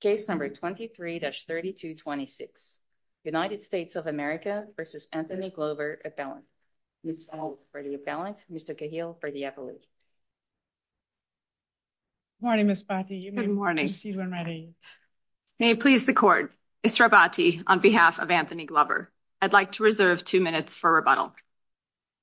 case number 23-3226 united states of america versus anthony glover appellant for the appellant mr kahil for the appellate morning miss batty good morning may it please the court mr abati on behalf of anthony glover i'd like to reserve two minutes for rebuttal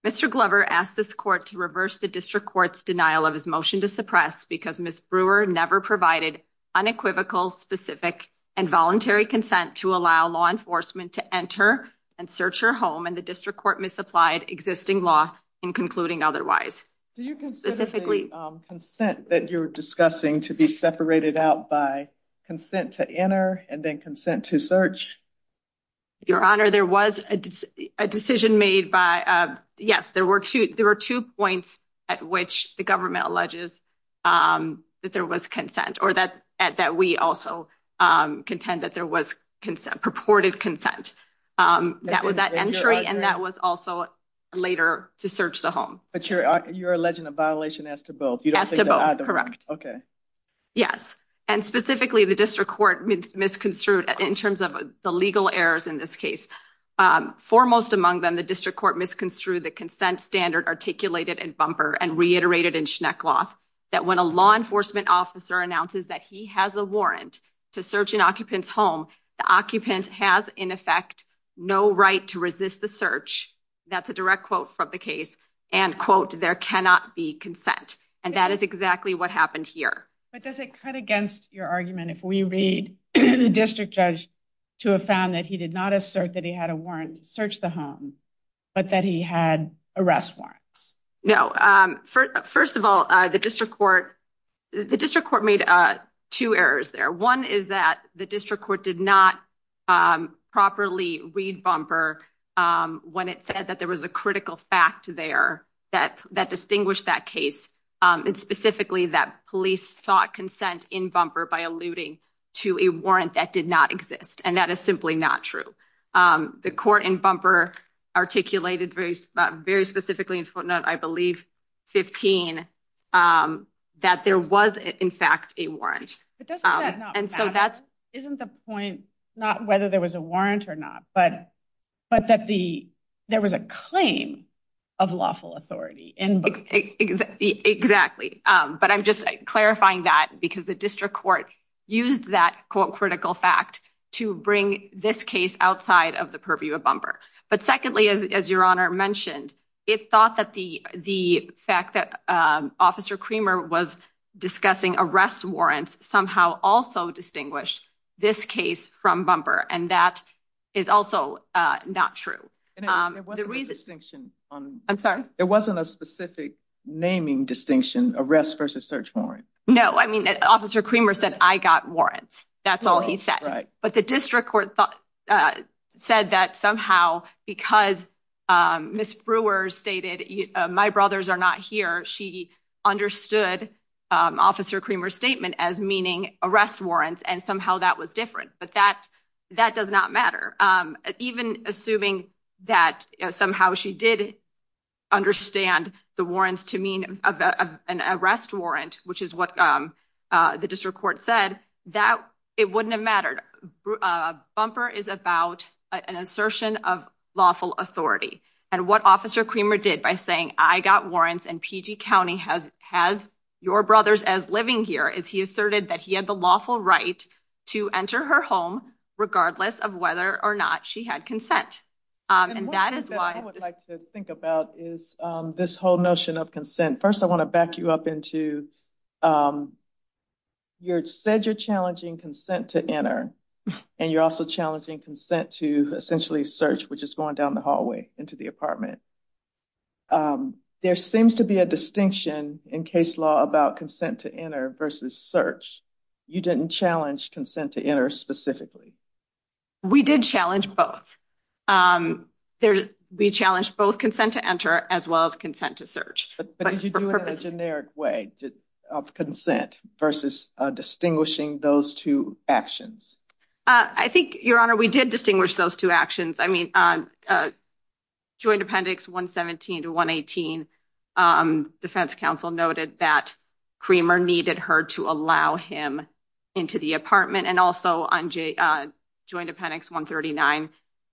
mr glover asked this court to reverse the district court's denial of his motion to suppress because miss brewer never provided unequivocal specific and voluntary consent to allow law enforcement to enter and search her home and the district court misapplied existing law in concluding otherwise do you specifically consent that you're discussing to be separated out by consent to enter and then consent to search your honor there was a decision made by uh yes there were two there were two points at which the government alleges um that there was consent or that that we also um contend that there was consent purported consent um that was at entry and that was also later to search the home but you're you're alleging a violation as to both you don't have to both correct okay yes and specifically the district court means misconstrued in terms of the legal errors in this case um foremost among them the district court misconstrued the consent standard articulated and bumper and reiterated in schneck cloth that when a law enforcement officer announces that he has a warrant to search an occupant's home the occupant has in effect no right to resist the search that's a direct quote from the case and quote there cannot be consent and that is exactly what happened here but does it cut against your argument if we read the district judge to have found that he did not assert that he had a warrant to search the home but that he had arrest warrants no um first of all uh the district court the district court made uh two errors there one is that the district court did not um properly read bumper um when it said that there was a critical fact there that that distinguished that case um and specifically that police sought consent in bumper by alluding to a warrant that did not exist and that is simply not true um the court in bumper articulated very very specifically in footnote i believe 15 um that there was in fact a warrant but doesn't that not and so that's isn't the point not whether there was a warrant or not but but that the there was a claim of lawful authority in exactly um but i'm just clarifying that because the district court used that quote critical fact to bring this case outside of the purview of bumper but secondly as your honor mentioned it thought that the the fact that um officer creamer was discussing arrest warrants somehow also distinguished this case from bumper and that is also uh not true um there was a distinction on i'm sorry there wasn't a specific naming distinction arrest versus search warrant no i mean that officer creamer said i got warrants that's all he said right but the district court thought uh said that somehow because um miss brewer stated my brothers are not here she understood um officer creamer statement as arrest warrants and somehow that was different but that that does not matter um even assuming that somehow she did understand the warrants to mean of an arrest warrant which is what um the district court said that it wouldn't have mattered uh bumper is about an assertion of lawful authority and what officer creamer did by saying i got warrants and pg county has has your brothers as living here is he asserted that he had the lawful right to enter her home regardless of whether or not she had consent um and that is why i would like to think about is um this whole notion of consent first i want to back you up into um you're said you're challenging consent to enter and you're also challenging consent to essentially search which is going down the hallway into the apartment um there seems to be a distinction in case law about consent to enter versus search you didn't challenge consent to enter specifically we did challenge both um there we challenged both consent to enter as well as consent to search but did you do it in a generic way of consent versus uh distinguishing those two actions uh i think your honor we did distinguish those two actions i mean on uh joint appendix 117 to 118 um defense council noted that creamer needed her to allow him into the apartment and also on j uh joint appendix 139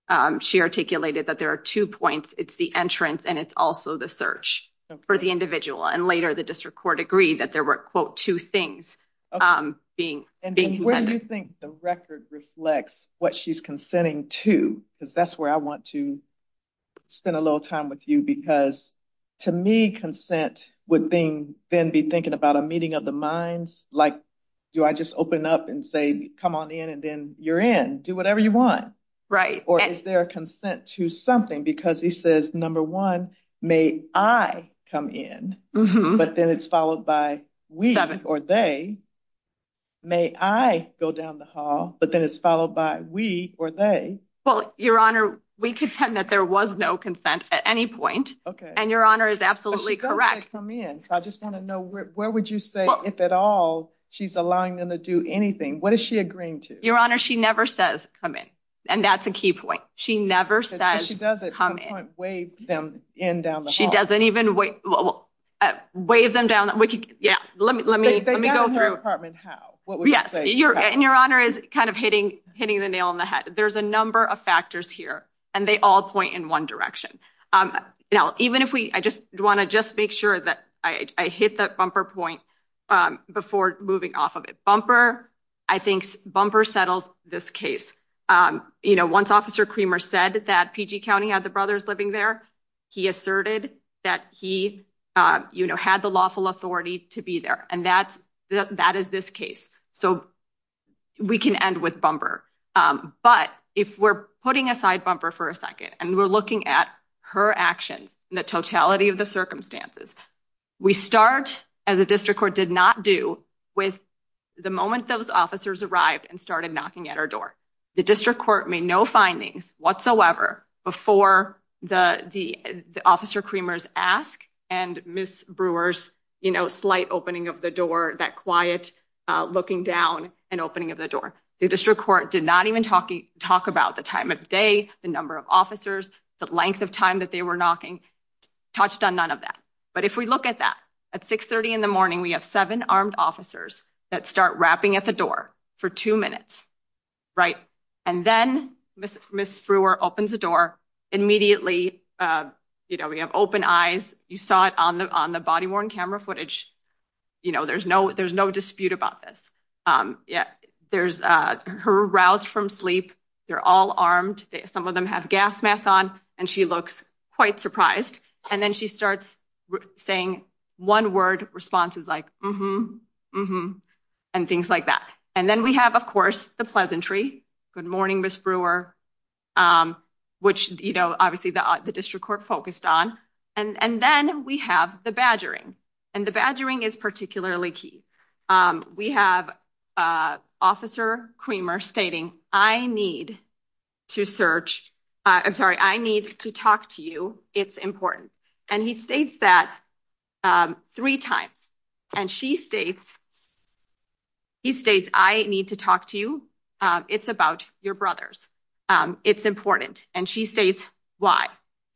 um she articulated that there are two points it's the entrance and it's also the search for the individual and later the district court agreed that there were quote two things um being and where do you think the record reflects what she's consenting to because that's where i want to spend a little time with you because to me consent would then be thinking about a meeting of the minds like do i just open up and say come on in and then you're in do whatever you want right or is there a consent to something because he says number one may i come in but then it's followed by we or they may i go down the hall but then it's followed by we or they well your honor we contend that there was no consent at any point okay and your honor is absolutely correct come in so i just want to know where would you say if at all she's allowing them to do anything what is she agreeing to your honor she never says come in and that's a key point she never says she doesn't come in down she doesn't even wait wave them down we could yeah let me let me let me go through yes your and your honor is kind of hitting hitting the nail on the head there's a number of factors here and they all point in one direction um now even if we i just want to just make sure that i i hit that bumper point um before moving off of it bumper i think bumper settles this case um you know once officer creamer said that pg county had the living there he asserted that he uh you know had the lawful authority to be there and that's the that is this case so we can end with bumper um but if we're putting aside bumper for a second and we're looking at her actions in the totality of the circumstances we start as a district court did not do with the moment those officers arrived and started knocking at our door the district court made no findings whatsoever before the the officer creamers ask and miss brewers you know slight opening of the door that quiet uh looking down and opening of the door the district court did not even talk talk about the time of day the number of officers the length of time that they were knocking touched on none of that but if we look at that at 6 30 in the and then miss miss brewer opens the door immediately uh you know we have open eyes you saw it on the on the body worn camera footage you know there's no there's no dispute about this um yeah there's uh her aroused from sleep they're all armed some of them have gas masks on and she looks quite surprised and then she starts saying one word responses like and things like that and then we have of course the pleasantry good morning miss brewer um which you know obviously the the district court focused on and and then we have the badgering and the badgering is particularly key um we have uh officer creamer stating i need to search i'm sorry i need to talk to you it's important and he states that um three times and she states he states i need to talk to you uh it's about your brothers um it's important and she states why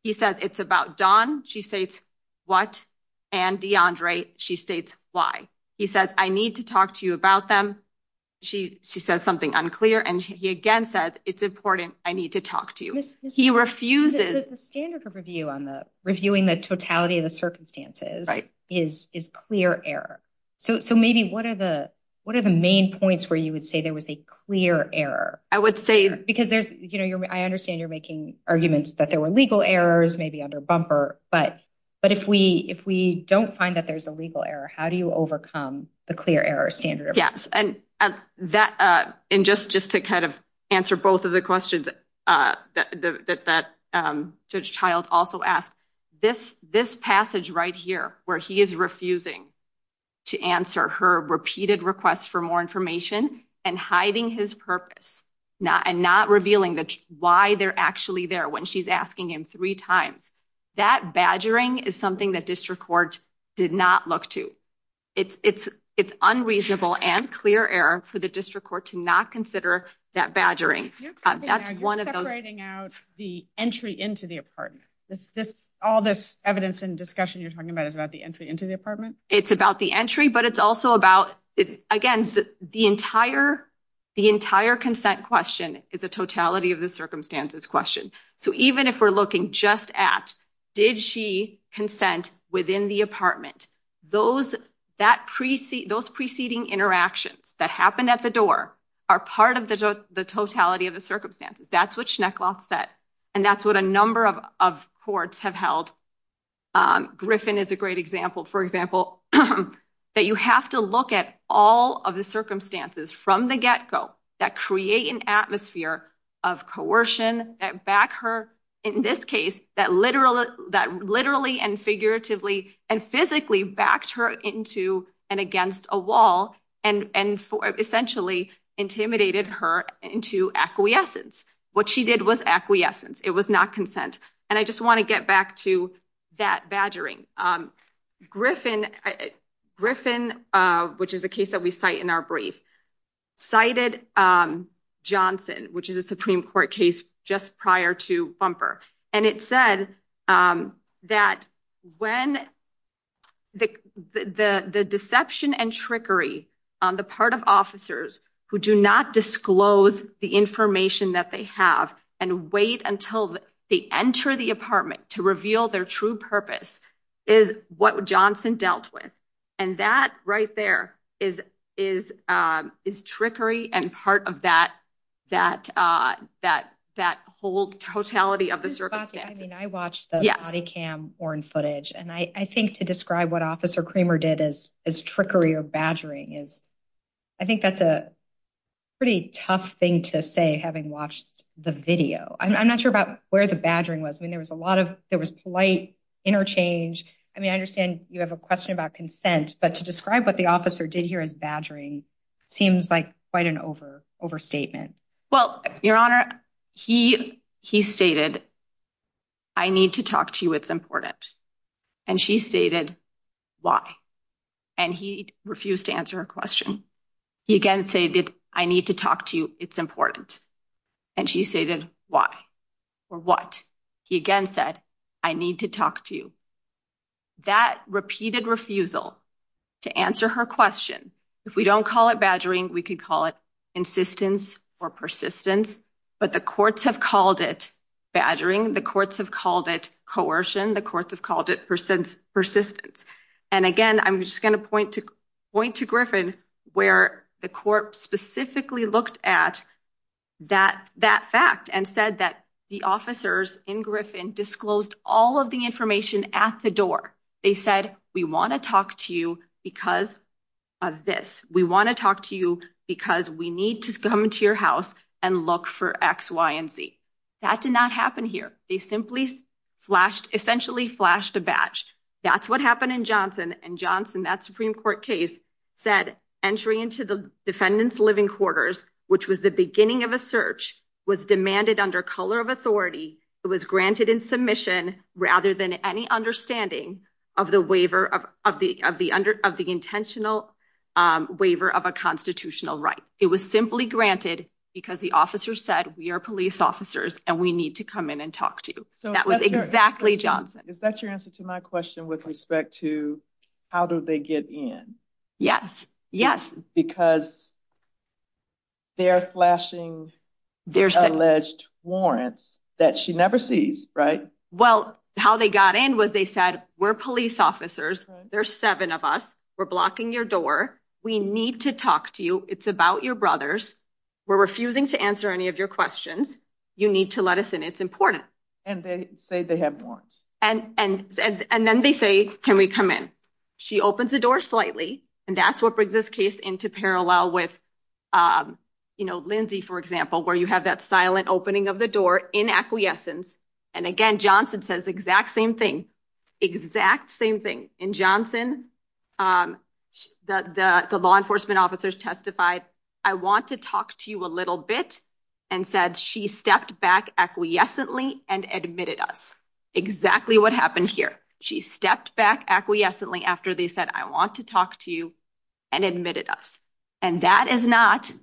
he says it's about dawn she states what and deandre she states why he says i need to talk to you about them she she says something unclear and he again says it's important i need to talk to you he refuses the standard of review on the reviewing the totality of the circumstances right is is clear error so so maybe what are the what are the main points where you would say there was a clear error i would say because there's you know i understand you're making arguments that there were legal errors maybe under bumper but but if we if we don't find that there's a legal error how do you overcome the clear error standard yes and and that uh and just just to kind of answer both of the questions uh that that um judge child also asked this this passage right here where he is refusing to answer her repeated requests for more information and hiding his purpose not and not revealing that why they're actually there when she's asking him three times that badgering is something that district court did not look to it's it's it's unreasonable and clear error for the that's one of those writing out the entry into the apartment this this all this evidence and discussion you're talking about is about the entry into the apartment it's about the entry but it's also about it again the the entire the entire consent question is a totality of the circumstances question so even if we're looking just at did she consent within the apartment those that precede those preceding interactions that happened at the door are part of the totality of the circumstances that's what shnekloth said and that's what a number of of courts have held um griffin is a great example for example that you have to look at all of the circumstances from the get-go that create an atmosphere of coercion that back her in this case that literally that literally and figuratively and physically backed her into and against a wall and and essentially intimidated her into acquiescence what she did was acquiescence it was not consent and i just want to get back to that badgering um griffin griffin uh which is a case that we cite in our brief cited um johnson which is a supreme court case just prior to bumper and it said um that when the the the deception and trickery on the part of officers who do not disclose the information that they have and wait until they enter the apartment to reveal their true purpose is what johnson dealt with and that right there is is um is trickery and part of that that uh that that whole totality of the circumstance i mean i watched the body cam or in footage and i i think to describe what officer creamer did as as trickery or badgering is i think that's a pretty tough thing to say having watched the video i'm not sure about where the badgering was i mean there was a lot of there was polite interchange i mean i understand you have a question about consent but to describe what the officer did here as badgering seems like quite an over overstatement well your honor he he stated i need to talk to you it's important and she stated why and he refused to answer her question he again stated i need to talk to you it's important and she stated why or what he again said i need to talk to you that repeated refusal to answer her question if we don't call it badgering we could call it insistence or persistence but the courts have called it badgering the courts have called it coercion the courts have called it persistence and again i'm just going to point to point to griffin where the court specifically looked at that that fact and said that the officers in griffin disclosed all of the information at the door they said we want to talk to you because of this we want to talk to you because we need to come to your house and look for x y and z that did not happen here they simply flashed essentially flashed a badge that's what happened in johnson and johnson that supreme court case said entry into the defendant's living quarters which was the beginning of a search was demanded under color of authority it was granted in submission rather than any understanding of the waiver of of the of the under of the intentional waiver of a constitutional right it was simply granted because the officer said we are police officers and we need to come in and talk to you so that was exactly johnson is that your answer to my question with respect to how do they get in yes yes because they are flashing there's alleged warrants that she never sees right well how they got in was they said we're police officers there's seven of us we're blocking your door we need to talk to you it's about your brothers we're refusing to answer any of your questions you need to let us in it's important and they say they have warrants and and and then they say can we come in she opens the door slightly and that's what brings this case into parallel with um you know lindsey for example where you have that silent opening of the door in acquiescence and again johnson says exact same thing exact same thing in johnson um the the law enforcement officers testified i want to talk to a little bit and said she stepped back acquiescently and admitted us exactly what happened here she stepped back acquiescently after they said i want to talk to you and admitted us and that is not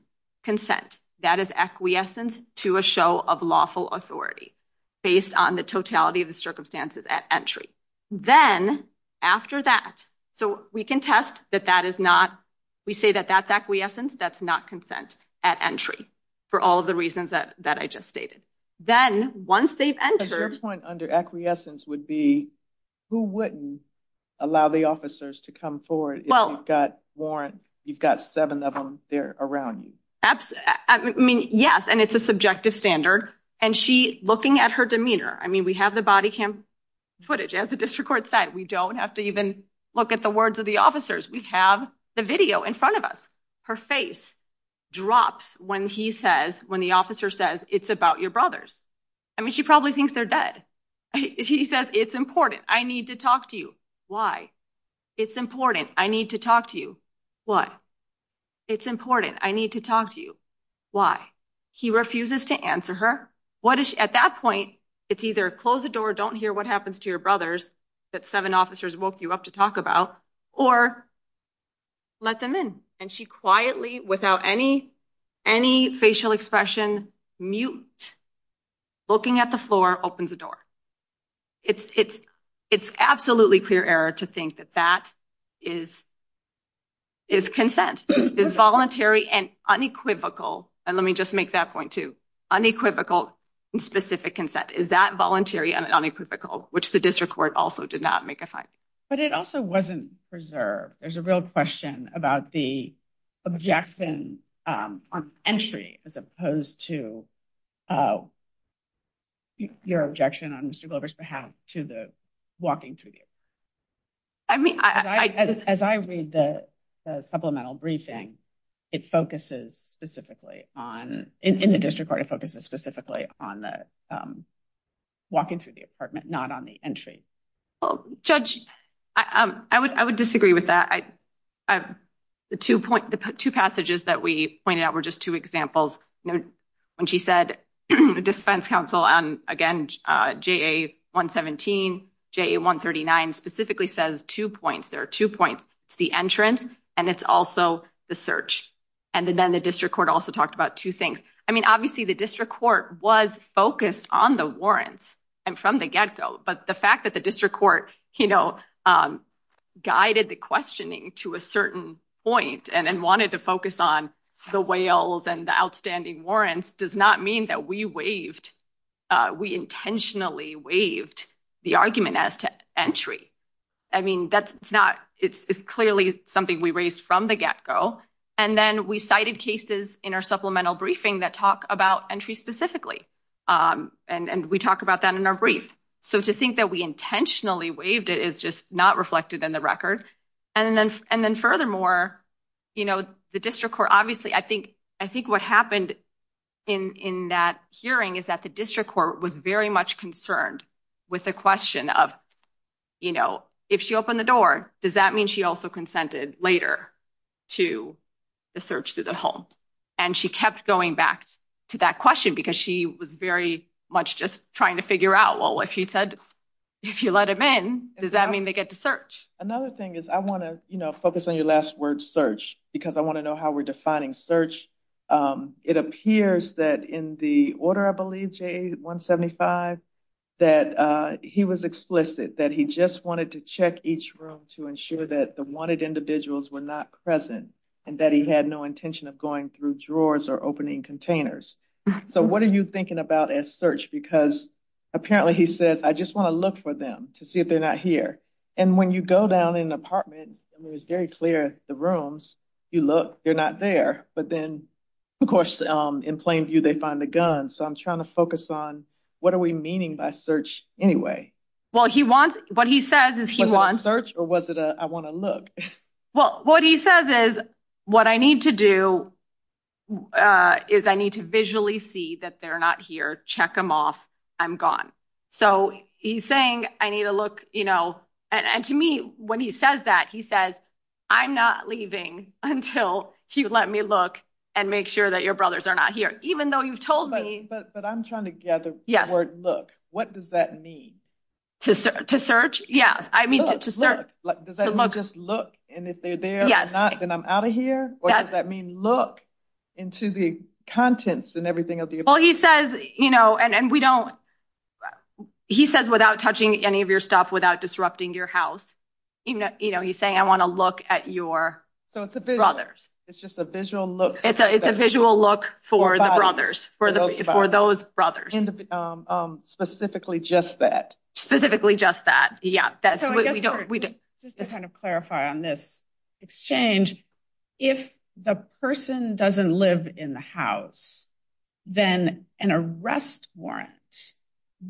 consent that is acquiescence to a show of lawful authority based on the totality of the circumstances at entry then after that so we can test that that is not we say that that's acquiescence that's not consent at entry for all the reasons that that i just stated then once they've entered under acquiescence would be who wouldn't allow the officers to come forward well you've got warrant you've got seven of them they're around you absolutely i mean yes and it's a subjective standard and she looking at her demeanor i mean we have the body cam footage as the district court said we don't have to even look at the words of the officers we have the video in front of us her face drops when he says when the officer says it's about your brothers i mean she probably thinks they're dead he says it's important i need to talk to you why it's important i need to talk to you what it's important i need to talk to you why he refuses to answer her what is at that point it's either close the door don't hear what happens to your brothers that seven officers woke you up or let them in and she quietly without any any facial expression mute looking at the floor opens the door it's it's it's absolutely clear error to think that that is is consent is voluntary and unequivocal and let me just make that point too unequivocal and specific consent is that voluntary and unequivocal which the district court also did not make a fine but it also wasn't preserved there's a real question about the objection um on entry as opposed to uh your objection on mr glover's behalf to the walking through the i mean i as i read the supplemental briefing it focuses specifically on in the district court it focuses specifically on the um walking through the apartment not on the entry well judge i um i would i would disagree with that i i the two point the two passages that we pointed out were just two examples you know when she said defense counsel and again uh ja 117 ja 139 specifically says two points there are two points it's the entrance and it's also the search and then the district court also talked about two i mean obviously the district court was focused on the warrants and from the get-go but the fact that the district court you know um guided the questioning to a certain point and wanted to focus on the whales and the outstanding warrants does not mean that we waived uh we intentionally waived the argument as to entry i mean that's it's not it's it's clearly something we raised from the get-go and then we cited cases in our supplemental briefing that talk about entry specifically um and and we talk about that in our brief so to think that we intentionally waived it is just not reflected in the record and then and then furthermore you know the district court obviously i think i think what happened in in that hearing is that the district court was very much concerned with the question of you know if she opened the door does that mean she also consented later to the search through the home and she kept going back to that question because she was very much just trying to figure out well if he said if you let him in does that mean they get to search another thing is i want to you know focus on your last word search because i want to know how we're defining search um it appears that in the order i believe ja175 that uh he was explicit that he just wanted to check each room to ensure that the wanted individuals were not present and that he had no intention of going through drawers or opening containers so what are you thinking about as search because apparently he says i just want to look for them to see if they're not here and when you go down in an apartment it was very clear the rooms you look they're not there but then of course um in plain view they find the gun so i'm trying to focus on what are we meaning by search anyway well he wants what he says is he wants search or was it a i want to look well what he says is what i need to do uh is i need to visually see that they're not here check them off i'm gone so he's saying i need to look you know and and to me when he says that he says i'm not leaving until you let me look and make sure that your brothers are not here even though you've told me but but i'm trying to gather yes look what does that mean to search to search yes i mean to start like does that mean just look and if they're there yes not then i'm out of here or does that mean look into the contents and everything of the well he says you know and and we don't he says without touching any of your stuff without disrupting your house even you know he's saying i want to look at your so it's a bit others it's just a visual look it's a it's a look for the brothers for the for those brothers um specifically just that specifically just that yeah that's what we don't we just to kind of clarify on this exchange if the person doesn't live in the house then an arrest warrant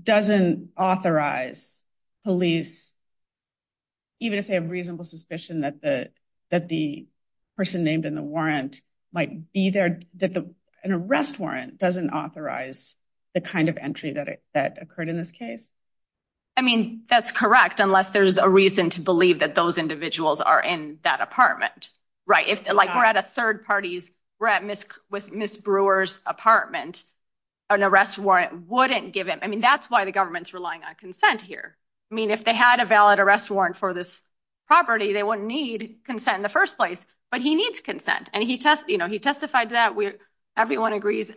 doesn't authorize police even if they have reasonable suspicion that the that the person named in the warrant might be there that the an arrest warrant doesn't authorize the kind of entry that that occurred in this case i mean that's correct unless there's a reason to believe that those individuals are in that apartment right if like we're at a third party's we're at miss with miss brewer's apartment an arrest warrant wouldn't give him i mean that's why the government's relying on consent here i mean if they had a valid arrest warrant for this property they wouldn't need consent in the first place but he needs consent and he test you know he testified that we everyone agrees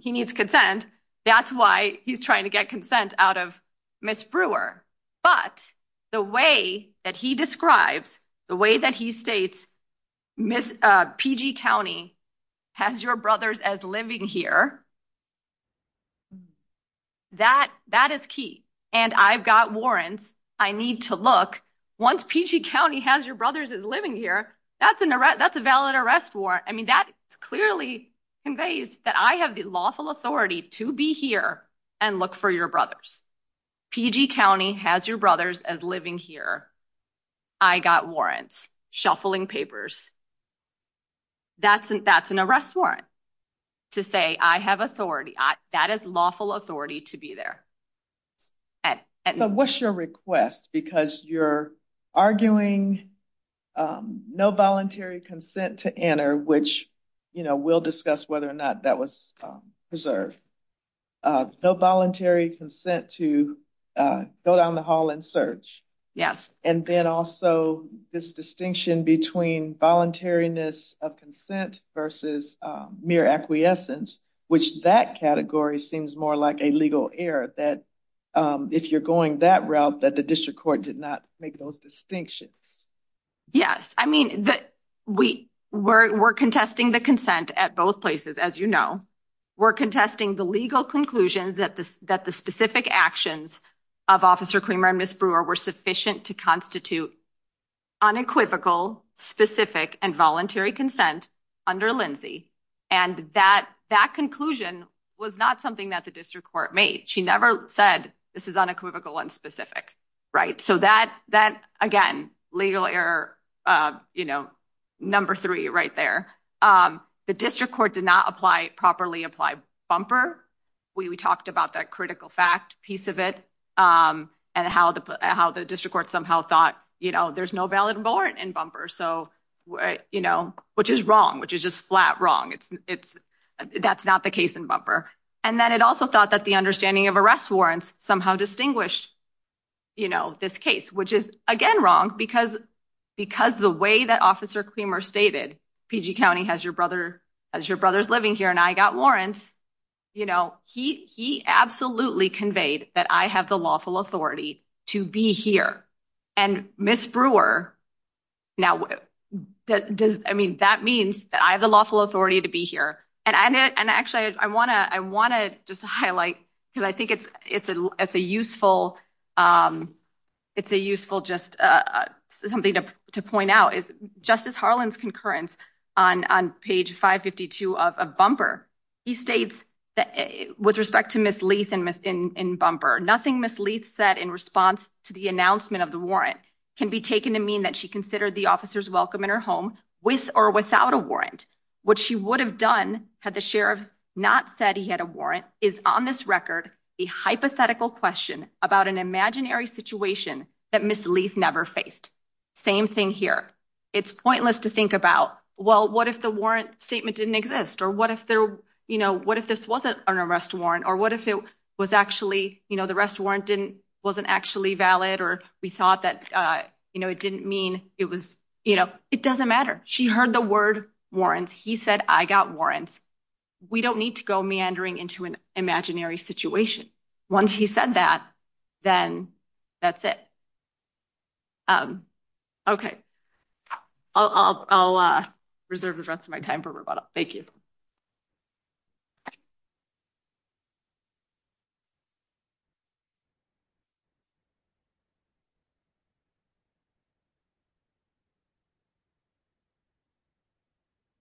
he needs consent that's why he's trying to get consent out of miss brewer but the way that he describes the way that he states miss pg county has your brothers as living here that that is key and i've got warrants i need to look once pg county has your brothers is living here that's an arrest that's a valid arrest warrant i mean that clearly conveys that i have the lawful authority to be here and look for your brothers pg county has your brothers as living here i got warrants shuffling papers that's that's an arrest warrant to say i have authority i that is lawful authority to be there so what's your request because you're arguing um no voluntary consent to enter which you know we'll discuss whether or not that was preserved uh no voluntary consent to go down the hall and search yes and then also this distinction between voluntariness of consent versus mere acquiescence which that category seems more like a legal error that if you're going that route that the district court did not make those distinctions yes i mean that we were we're contesting the consent at both places as you know we're contesting the legal conclusions that this that the specific actions of officer creamer and miss brewer were sufficient to constitute unequivocal specific and voluntary consent under lindsey and that that conclusion was not something that the district court made she never said this is unequivocal and specific right so that that again legal error uh you know number three right there um the district court did not apply properly apply bumper we talked about that critical fact piece of it um and how the how the district court somehow thought you know there's no valid warrant in bumper so you know which is wrong which is just flat wrong it's it's that's not the case in bumper and then it also thought that the understanding of arrest warrants somehow distinguished you know this case which is again wrong because because the way that officer creamer stated pg county has your brother as your brother's living here and i got warrants you know he he absolutely conveyed that i have the lawful authority to be here and miss brewer now that does i mean that means that i have the lawful authority to be here and i and actually i want to i want to just highlight because i think it's it's a it's a um it's a useful just uh something to to point out is justice harland's concurrence on on page 552 of a bumper he states that with respect to miss leith and miss in in bumper nothing miss leith said in response to the announcement of the warrant can be taken to mean that she considered the officer's welcome in her home with or without a warrant what she would have done had the sheriffs not said he had a warrant is on this record a hypothetical question about an imaginary situation that miss leith never faced same thing here it's pointless to think about well what if the warrant statement didn't exist or what if there you know what if this wasn't an arrest warrant or what if it was actually you know the rest warrant didn't wasn't actually valid or we thought that uh you know it didn't mean it was you know it doesn't matter she heard the word warrants he said i got warrants we don't need to go meandering into an imaginary situation once he said that then that's it um okay i'll i'll uh reserve the rest of my time for rebuttal thank you you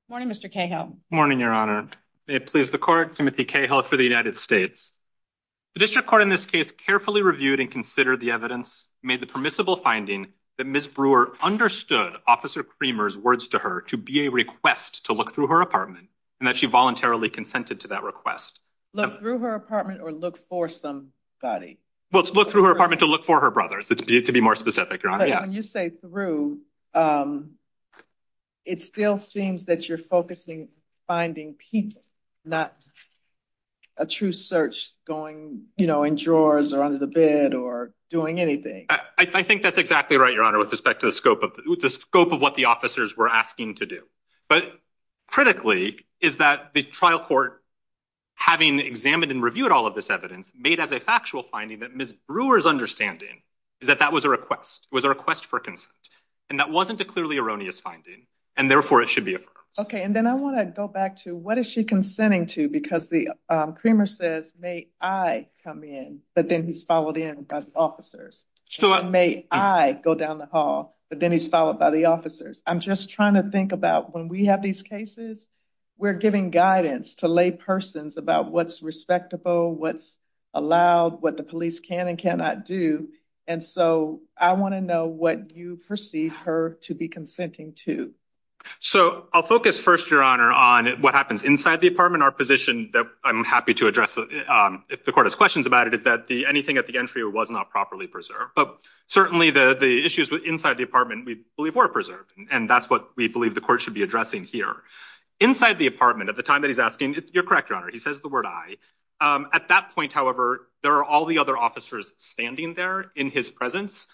morning mr cahill morning your honor may it please the court timothy cahill for the united states the district court in this case carefully reviewed and considered the evidence made the permissible finding that miss brewer understood officer creamer's words to her to be a request to look her apartment and that she voluntarily consented to that request look through her apartment or look for somebody well look through her apartment to look for her brothers it's to be more specific it still seems that you're focusing finding people not a true search going you know in drawers or under the bed or doing anything i think that's exactly right your honor with respect to the scope of what the officers were asking to do but critically is that the trial court having examined and reviewed all of this evidence made as a factual finding that miss brewer's understanding is that that was a request was a request for consent and that wasn't a clearly erroneous finding and therefore it should be affirmed okay and then i want to go back to what is she consenting to because the creamer says may i come in but then he's followed in by the officers so may i go down the hall but then he's followed by the officers i'm just trying to think about when we have these cases we're giving guidance to lay persons about what's respectable what's allowed what the police can and cannot do and so i want to know what you perceive her to be consenting to so i'll focus first your honor on what happens inside the apartment our position that i'm happy to address if the court has questions about it is anything at the entry was not properly preserved but certainly the the issues with inside the apartment we believe were preserved and that's what we believe the court should be addressing here inside the apartment at the time that he's asking you're correct your honor he says the word i at that point however there are all the other officers standing there in his presence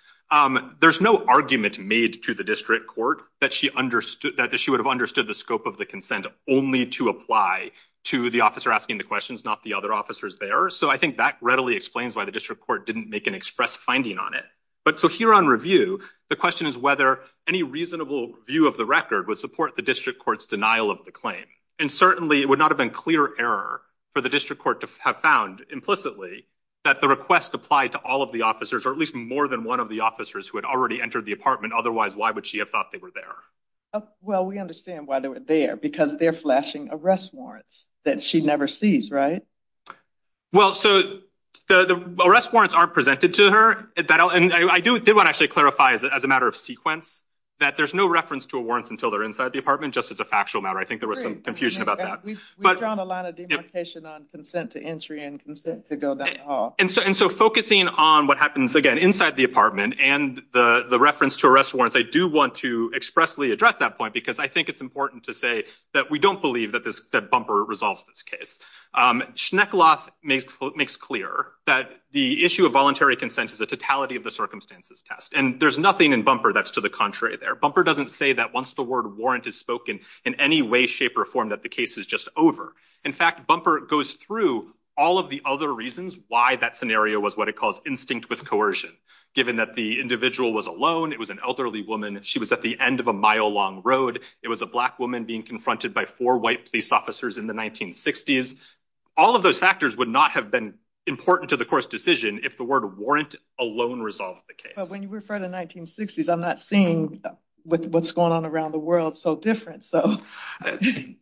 there's no argument made to the district court that she understood that she would have understood the scope of the consent only to apply to the officer asking the questions not the other officers there so i think that readily explains why the district court didn't make an express finding on it but so here on review the question is whether any reasonable view of the record would support the district court's denial of the claim and certainly it would not have been clear error for the district court to have found implicitly that the request applied to all of the officers or at least more than one of the officers who had already entered the apartment otherwise why would she have thought they were there well we understand why they were there because they're flashing arrest warrants that she never sees right well so the the arrest warrants are presented to her at that and i do want to actually clarify as a matter of sequence that there's no reference to a warrants until they're inside the apartment just as a factual matter i think there was some confusion about that we've drawn a lot of demarcation on consent to entry and consent to go down the hall and so and so focusing on what happens again inside the apartment and the the reference to arrest warrants i do want to expressly address that point because i think it's important to say that we don't believe that this that bumper resolves this case um schneck loft makes makes clear that the issue of voluntary consent is a totality of the circumstances test and there's nothing in bumper that's to the contrary there bumper doesn't say that once the word warrant is spoken in any way shape or form that the case is just over in fact bumper goes through all of the other reasons why that scenario was what it calls instinct with coercion given that the individual was alone it was an elderly woman she was at the end of a mile long road it was a black being confronted by four white police officers in the 1960s all of those factors would not have been important to the court's decision if the word warrant alone resolved the case but when you refer to 1960s i'm not seeing what's going on around the world so different so i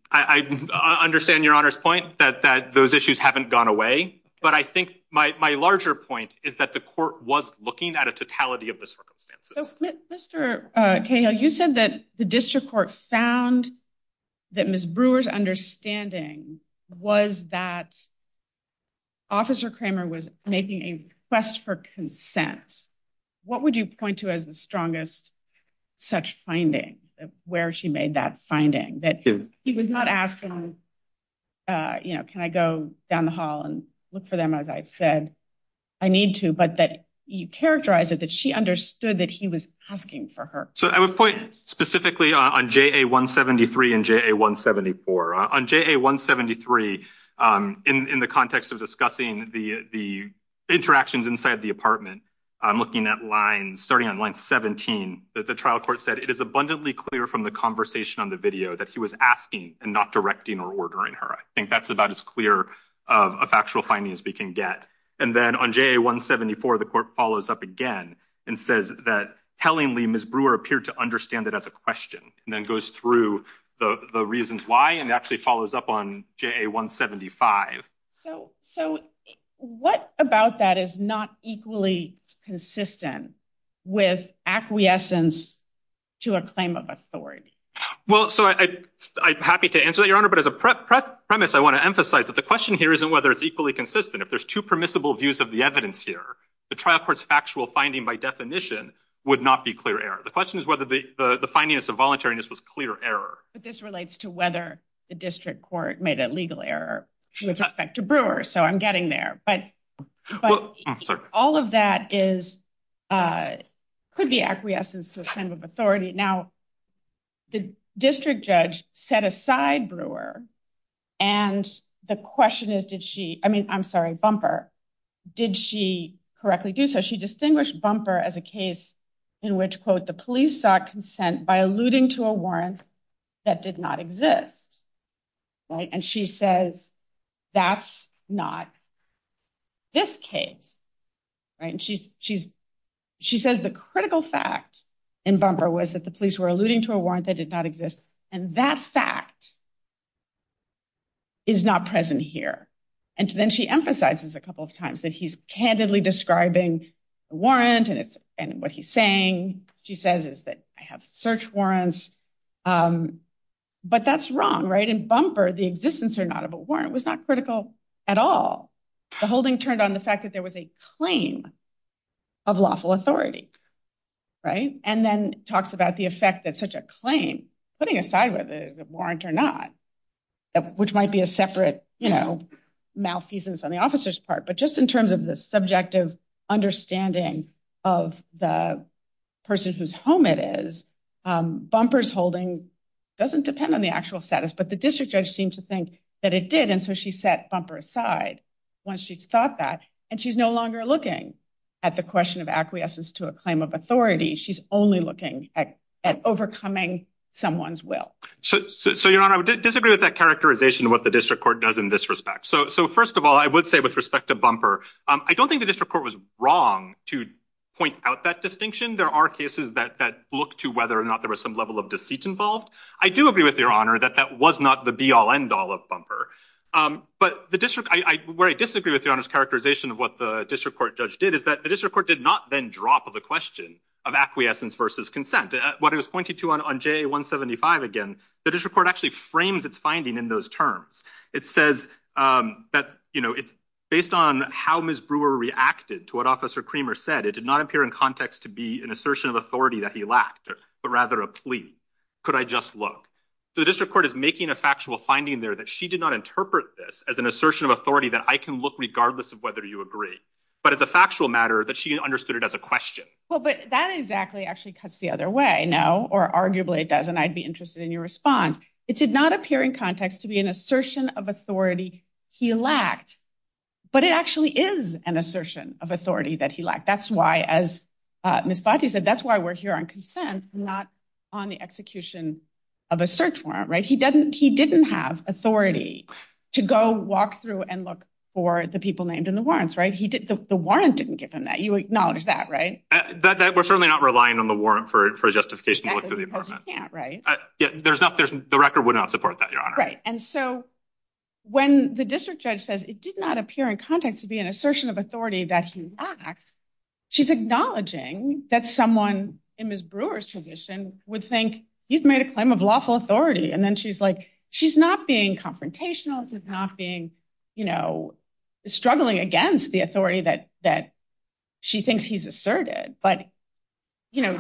i understand your honor's point that that those issues haven't gone away but i think my my larger point is that the court was looking at a totality of the circumstances mr uh kayle you said that the district court found that miss brewer's understanding was that officer kramer was making a request for consent what would you point to as the strongest such finding where she made that finding that he was not asking uh you know can i go down the hall and look for them as i've said i need to but that you characterize it that she understood that he was asking for her so i point specifically on ja173 and ja174 on ja173 um in in the context of discussing the the interactions inside the apartment i'm looking at lines starting on line 17 that the trial court said it is abundantly clear from the conversation on the video that he was asking and not directing or ordering her i think that's about as clear of a factual finding as we can get and then on ja174 the court follows up again and says that tellingly miss brewer appeared to understand it as a question and then goes through the the reasons why and actually follows up on ja175 so so what about that is not equally consistent with acquiescence to a claim of authority well so i i'm happy to answer that your honor but as a prep premise i want to emphasize that the question here isn't whether it's equally consistent if there's two permissible views of the evidence here the trial court's factual finding by definition would not be clear error the question is whether the the findings of voluntariness was clear error but this relates to whether the district court made a legal error with respect to brewer so i'm getting there but but all of that is uh could be acquiescence to a claim of authority now the district judge set aside brewer and the question is did she i mean i'm sorry bumper did she correctly do so she distinguished bumper as a case in which quote the police sought consent by alluding to a warrant that did not exist right and she says that's not this case right and she she's she says the critical fact in bumper was that the police were alluding to a warrant that did not exist and that fact is not present here and then she emphasizes a couple of times that he's candidly describing the warrant and it's and what he's saying she says is that i have search warrants um but that's wrong right in bumper the existence or not of a warrant was not critical at all the holding turned on the fact that there was a claim of lawful authority right and then talks about the effect that such a claim putting aside whether the warrant or not which might be a separate you know malfeasance on the officer's part but just in terms of the subjective understanding of the person whose home it is um bumpers holding doesn't depend on the actual status but the district judge seemed to think that it did and so she set bumper aside once she thought that and she's no longer looking at the question of acquiescence to a claim of authority she's only looking at at overcoming someone's will so so your honor i would disagree with that characterization of what the district court does in this respect so so first of all i would say with respect to bumper um i don't think the district court was wrong to point out that distinction there are cases that that look to whether or not there was some level of deceit involved i do agree with your honor that that was not the be all end all of bumper um but the district i where i disagree with your honor's characterization of what the district court did is that the district court did not then drop the question of acquiescence versus consent what it was pointing to on jay 175 again the district court actually frames its finding in those terms it says um that you know it's based on how ms brewer reacted to what officer creamer said it did not appear in context to be an assertion of authority that he lacked but rather a plea could i just look the district court is making a factual finding there that she did not interpret this as assertion of authority that i can look regardless of whether you agree but as a factual matter that she understood it as a question well but that exactly actually cuts the other way no or arguably it does and i'd be interested in your response it did not appear in context to be an assertion of authority he lacked but it actually is an assertion of authority that he lacked that's why as uh ms bati said that's why we're here on consent not on the execution of a search warrant right he he didn't have authority to go walk through and look for the people named in the warrants right he did the warrant didn't give him that you acknowledge that right that that we're certainly not relying on the warrant for for justification to look through the apartment right yeah there's not there's the record would not support that your honor right and so when the district judge says it did not appear in context to be an assertion of authority that he lacked she's acknowledging that someone in ms brewer's position would think he's made a claim of lawful authority and then she's like she's not being confrontational she's not being you know struggling against the authority that that she thinks he's asserted but you know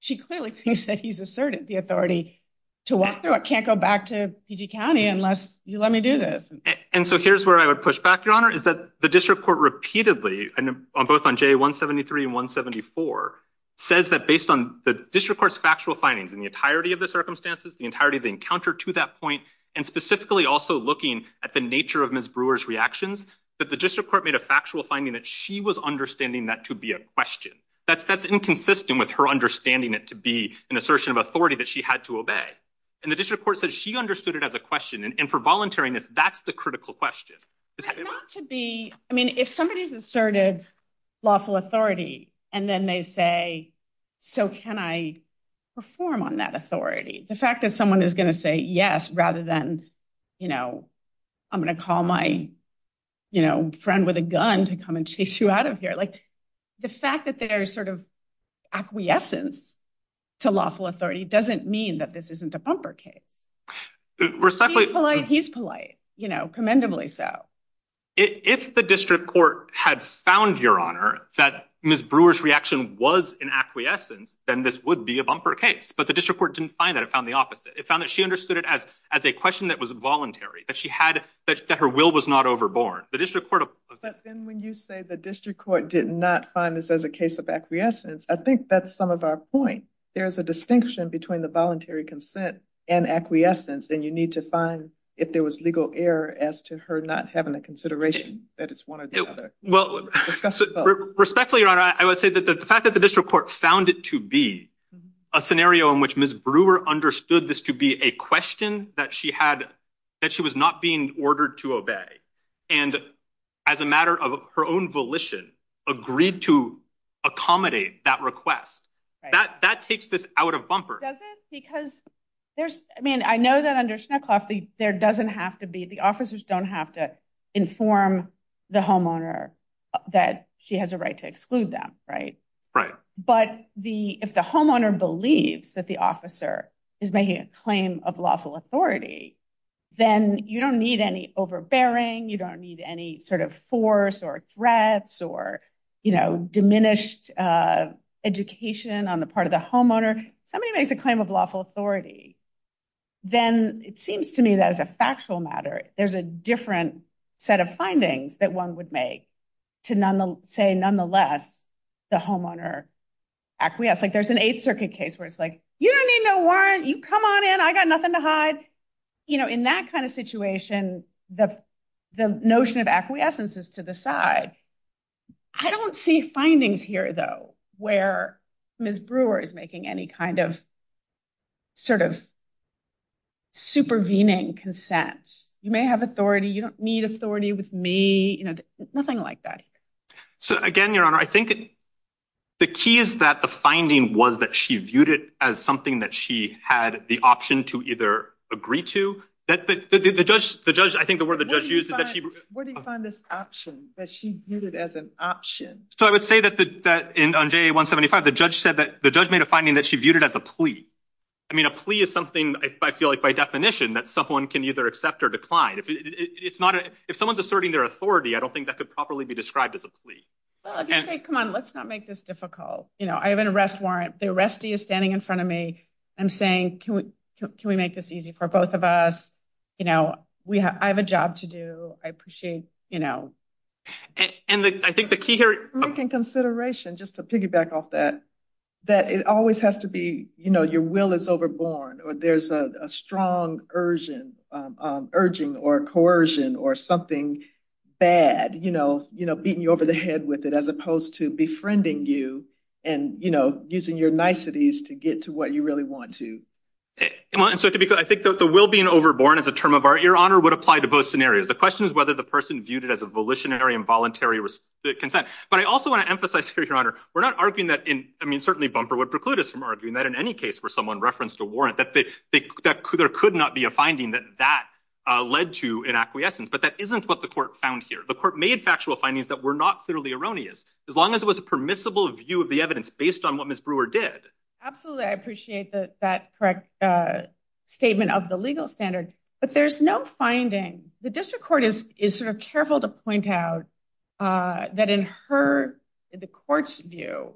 she clearly thinks that he's asserted the authority to walk through it can't go back to pg county unless you let me do this and so here's where i would push back your honor is that the district court repeatedly and both on j 173 and 174 says that based on the district court's factual findings in the entirety of the circumstances the entirety of the encounter to that point and specifically also looking at the nature of ms brewer's reactions that the district court made a factual finding that she was understanding that to be a question that's that's inconsistent with her understanding it to be an assertion of authority that she had to obey and the district court said she understood it as a question and for volunteering this that's the critical question not to be i mean if somebody's lawful authority and then they say so can i perform on that authority the fact that someone is going to say yes rather than you know i'm going to call my you know friend with a gun to come and chase you out of here like the fact that there's sort of acquiescence to lawful authority doesn't mean that this isn't a bumper case respectfully polite he's polite you know so if the district court had found your honor that ms brewer's reaction was in acquiescence then this would be a bumper case but the district court didn't find that it found the opposite it found that she understood it as as a question that was voluntary that she had that her will was not overborne the district court but then when you say the district court did not find this as a case of acquiescence i think that's some of our point there's a distinction between the voluntary consent and acquiescence and you need to find if there was legal error as to her not having a consideration that it's one or the other well respectfully your honor i would say that the fact that the district court found it to be a scenario in which ms brewer understood this to be a question that she had that she was not being ordered to obey and as a matter of her own agreed to accommodate that request that that takes this out of bumper doesn't because there's i mean i know that under schnittkopf there doesn't have to be the officers don't have to inform the homeowner that she has a right to exclude them right right but the if the homeowner believes that the officer is making a claim of lawful authority then you don't need any overbearing you don't need any sort of force or threats or you know diminished education on the part of the homeowner somebody makes a claim of lawful authority then it seems to me that as a factual matter there's a different set of findings that one would make to none say nonetheless the homeowner acquiesce like there's an eighth circuit case where it's like you don't need no you come on in i got nothing to hide you know in that kind of situation the the notion of acquiescence is to the side i don't see findings here though where ms brewer is making any kind of sort of supervening consent you may have authority you don't need authority with me you know nothing like that so again your honor i think the key is that the finding was that she viewed it as something that she had the option to either agree to that the the judge the judge i think the word the judge used is that she where do you find this option that she viewed it as an option so i would say that the that in on ja175 the judge said that the judge made a finding that she viewed it as a plea i mean a plea is something i feel like by definition that someone can either accept or decline if it's not if someone's asserting their authority i don't think that could properly be described as a plea come on let's not make this difficult you know i have an arrest warrant the arrestee is standing in front of me i'm saying can we can we make this easy for both of us you know we have i have a job to do i appreciate you know and the i think the key here making consideration just to piggyback off that that it always has to be you know your will is overborn or there's a strong urgent um urging or coercion or something bad you know you know beating you over the head with it as opposed to befriending you and you know using your niceties to get to what you really want to come on so i think the will being overborn as a term of art your honor would apply to both scenarios the question is whether the person viewed it as a volitionary involuntary consent but i also want to emphasize here your honor we're not arguing that in i mean certainly bumper would preclude us from arguing that in any case where someone referenced a warrant that they that there could not be a finding that that uh led to in acquiescence but that isn't what the court found here the court made factual findings that were not clearly erroneous as long as it was a permissible view of the evidence based on what miss brewer did absolutely i appreciate that that correct uh statement of the legal standard but there's no finding the district court is is sort of careful to point out uh that in her the court's view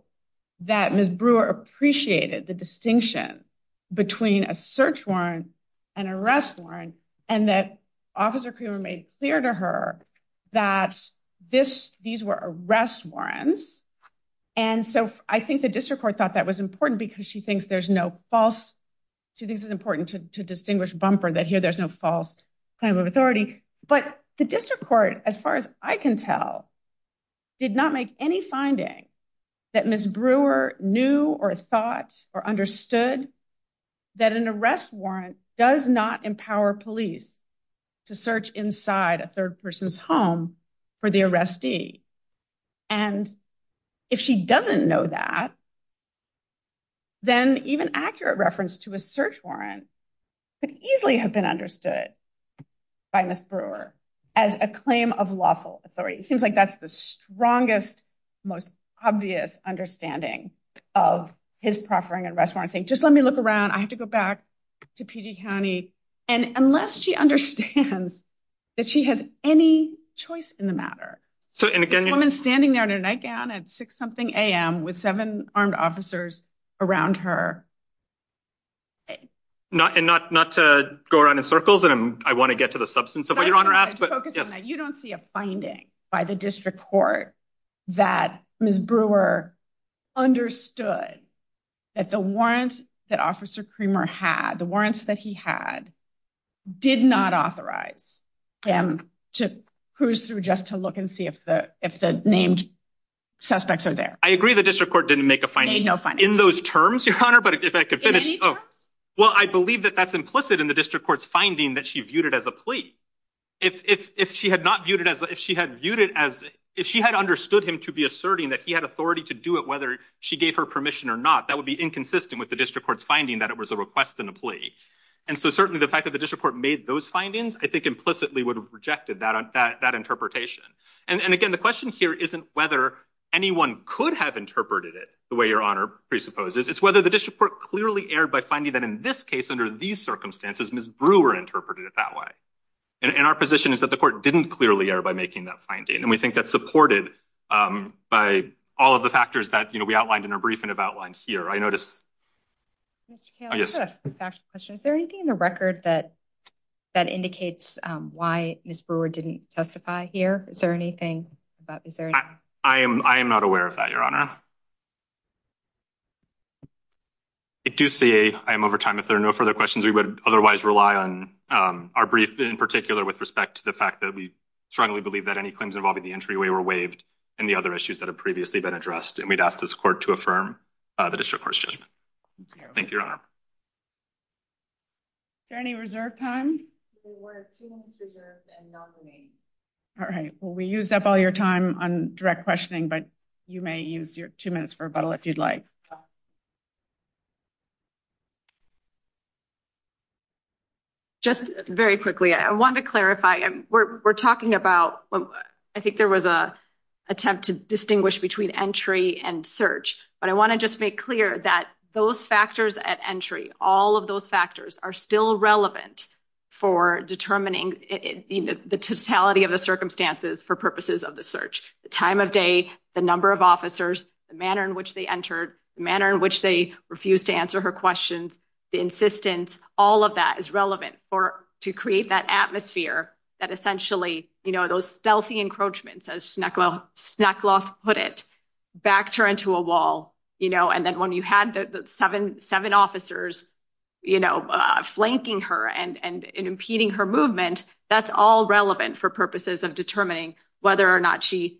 that miss brewer appreciated the distinction between a search warrant and arrest warrant and that officer creamer made clear to her that this these were arrest warrants and so i think the district court thought that was important because she thinks there's no false she thinks it's important to distinguish bumper that here there's no false claim of authority but the district court as far as i can tell did not make any finding that miss brewer knew or thought or understood that an arrest warrant does not empower police to search inside a third person's home for the arrestee and if she doesn't know that then even accurate reference to a search warrant could easily have been understood by miss brewer as a claim of lawful authority it seems like that's the strongest most obvious understanding of his proffering and restaurant saying just let me look around i have to go back to pg county and unless she understands that she has any choice in the matter so and again this woman's standing there in her nightgown at six something a.m with seven armed officers around her not and not not to go around in circles and i want to get to the substance of what your court that miss brewer understood that the warrant that officer creamer had the warrants that he had did not authorize him to cruise through just to look and see if the if the named suspects are there i agree the district court didn't make a fine no fun in those terms your honor but if i could finish well i believe that that's implicit in the district court's finding that she viewed it as a plea if if she had not viewed it as if she had viewed it as if she had understood him to be asserting that he had authority to do it whether she gave her permission or not that would be inconsistent with the district court's finding that it was a request and a plea and so certainly the fact that the district court made those findings i think implicitly would have rejected that on that that interpretation and and again the question here isn't whether anyone could have interpreted it the way your honor presupposes it's whether the district court clearly erred by that in this case under these circumstances miss brewer interpreted it that way and our position is that the court didn't clearly err by making that finding and we think that's supported um by all of the factors that you know we outlined in our briefing have outlined here i noticed yes question is there anything in the record that that indicates um why miss brewer didn't testify here is there anything about is there i am i am not aware of that your honor i do say i am over time if there are no further questions we would otherwise rely on um our brief in particular with respect to the fact that we strongly believe that any claims involving the entryway were waived and the other issues that have previously been addressed and we'd ask this court to affirm uh the district court's judgment thank you your honor is there any reserve time we were two minutes reserved and non-remaining all right well we used up all your time on direct questioning but you may use your two minutes for rebuttal if you'd like just very quickly i want to clarify and we're talking about i think there was a attempt to distinguish between entry and search but i want to just make clear that those factors at entry all of those factors are still relevant for determining you know the totality of the for purposes of the search the time of day the number of officers the manner in which they entered the manner in which they refused to answer her questions the insistence all of that is relevant for to create that atmosphere that essentially you know those stealthy encroachments as snuck off snuck off put it back turned to a wall you know and then when you had the seven seven officers you know uh flanking her and and impeding her movement that's all relevant for of determining whether or not she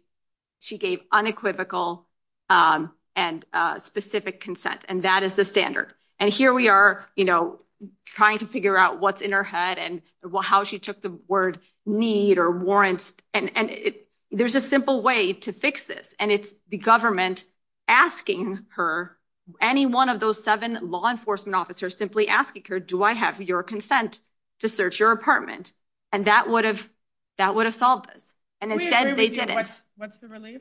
she gave unequivocal um and uh specific consent and that is the standard and here we are you know trying to figure out what's in her head and how she took the word need or warrants and and it there's a simple way to fix this and it's the government asking her any one of those seven law enforcement officers simply asking her do i have your consent to search your apartment and that would have that would have solved this and instead they did it what's the relief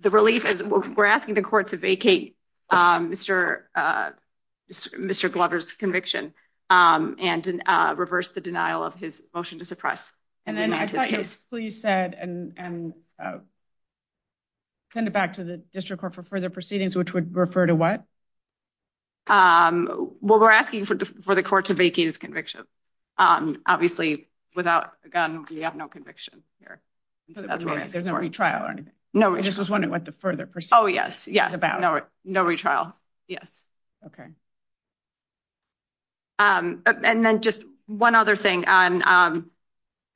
the relief is we're asking the court to vacate um mr uh mr glover's conviction um and uh reverse the denial of his motion to suppress and then i thought you said and and uh send it back to the district court for further proceedings which would refer to what um well we're asking for for the court to vacate his conviction um obviously without a gun we have no conviction here there's no retrial or anything no i just was wondering what the further pursuit oh yes yes about no no retrial yes okay um and then just one other thing on um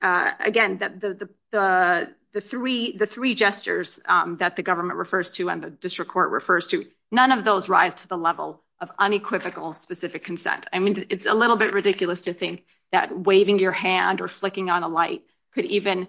uh again that the the the three the three gestures um that the government refers to and district court refers to none of those rise to the level of unequivocal specific consent i mean it's a little bit ridiculous to think that waving your hand or flicking on a light could even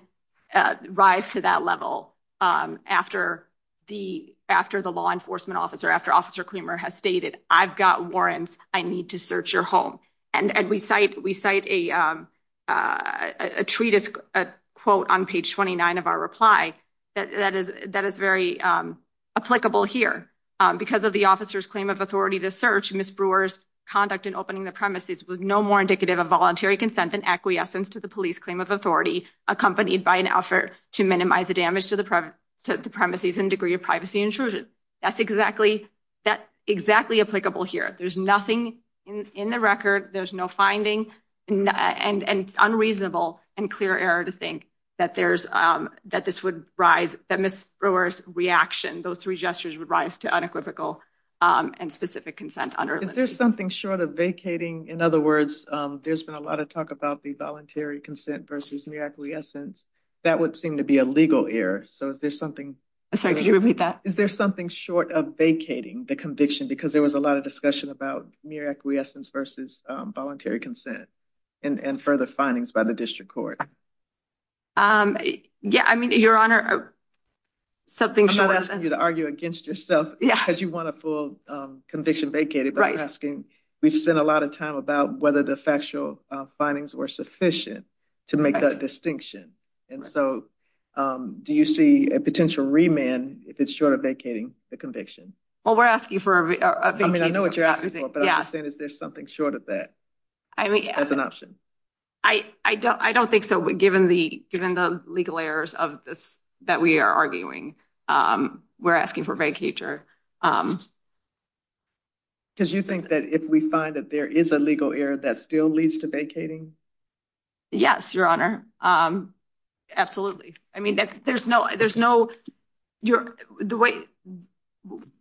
uh rise to that level um after the after the law enforcement officer after officer creamer has stated i've got warrants i need to search your home and and we cite we cite a um uh a treatise a quote on page 29 of our reply that that is that is very um applicable here because of the officer's claim of authority to search miss brewer's conduct in opening the premises with no more indicative of voluntary consent than acquiescence to the police claim of authority accompanied by an effort to minimize the damage to the private to the premises and degree of privacy intrusion that's exactly that exactly applicable here there's nothing in in the record there's no binding and and unreasonable and clear error to think that there's um that this would rise that miss brewer's reaction those three gestures would rise to unequivocal um and specific consent under is there something short of vacating in other words um there's been a lot of talk about the voluntary consent versus mere acquiescence that would seem to be a legal error so is there something i'm sorry could you repeat that is there something short of vacating the conviction because there was a lot of discussion about mere acquiescence versus um voluntary consent and and further findings by the district court um yeah i mean your honor something i'm not asking you to argue against yourself yeah because you want a full um conviction vacated right asking we've spent a lot of time about whether the factual findings were sufficient to make that distinction and so um do you see a potential remand if it's short of vacating the conviction well we're asking for i mean i know what you're asking but i'm saying is there something short of that i mean that's an option i i don't i don't think so given the given the legal errors of this that we are arguing um we're asking for vacature um because you think that if we find that there is a legal error that still leads to vacating yes your honor um absolutely i mean that there's no there's no you're the way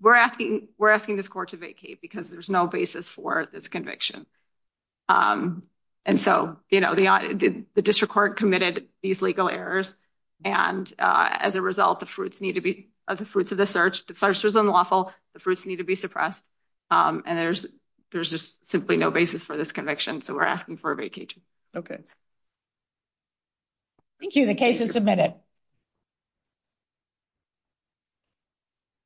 we're asking we're asking this court to vacate because there's no basis for this conviction um and so you know the the district court committed these legal errors and uh as a result the fruits need to be of the fruits of the search the search was unlawful the fruits need to be suppressed um and there's there's just simply no basis for this conviction so we're asking for a vacation okay thank you the case is submitted